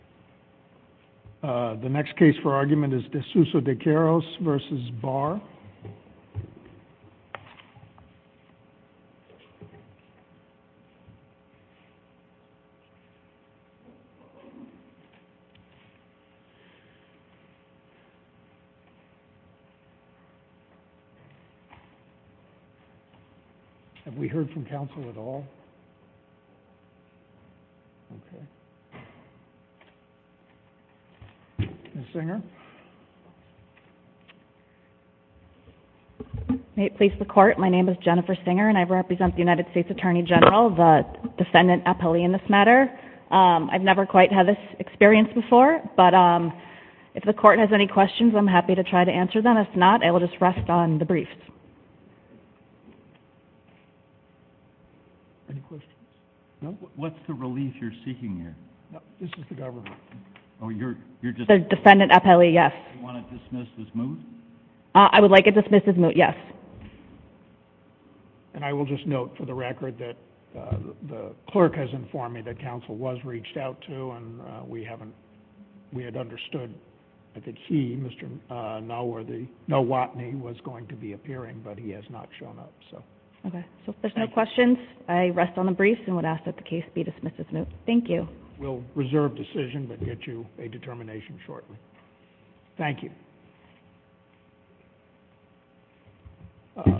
The next case for argument is DeSouza de Queiroz v. Barr. Have we heard from counsel at all? Ms. Singer? May it please the Court, my name is Jennifer Singer, and I represent the United States Attorney General, the defendant appellee in this matter. I've never quite had this experience before, but if the Court has any questions, I'm happy to try to answer them. If not, I will just rest on the briefs. Any questions? No. What's the relief you're seeking here? This is the government. The defendant appellee, yes. Do you want to dismiss this moot? I would like to dismiss this moot, yes. And I will just note for the record that the clerk has informed me that counsel was reached out to, and we had understood that he, Mr. Nowotny, was going to be appearing, but he has not shown up. Okay, so if there's no questions, I rest on the briefs and would ask that the case be dismissed as moot. Thank you. We'll reserve decision but get you a determination shortly. Thank you.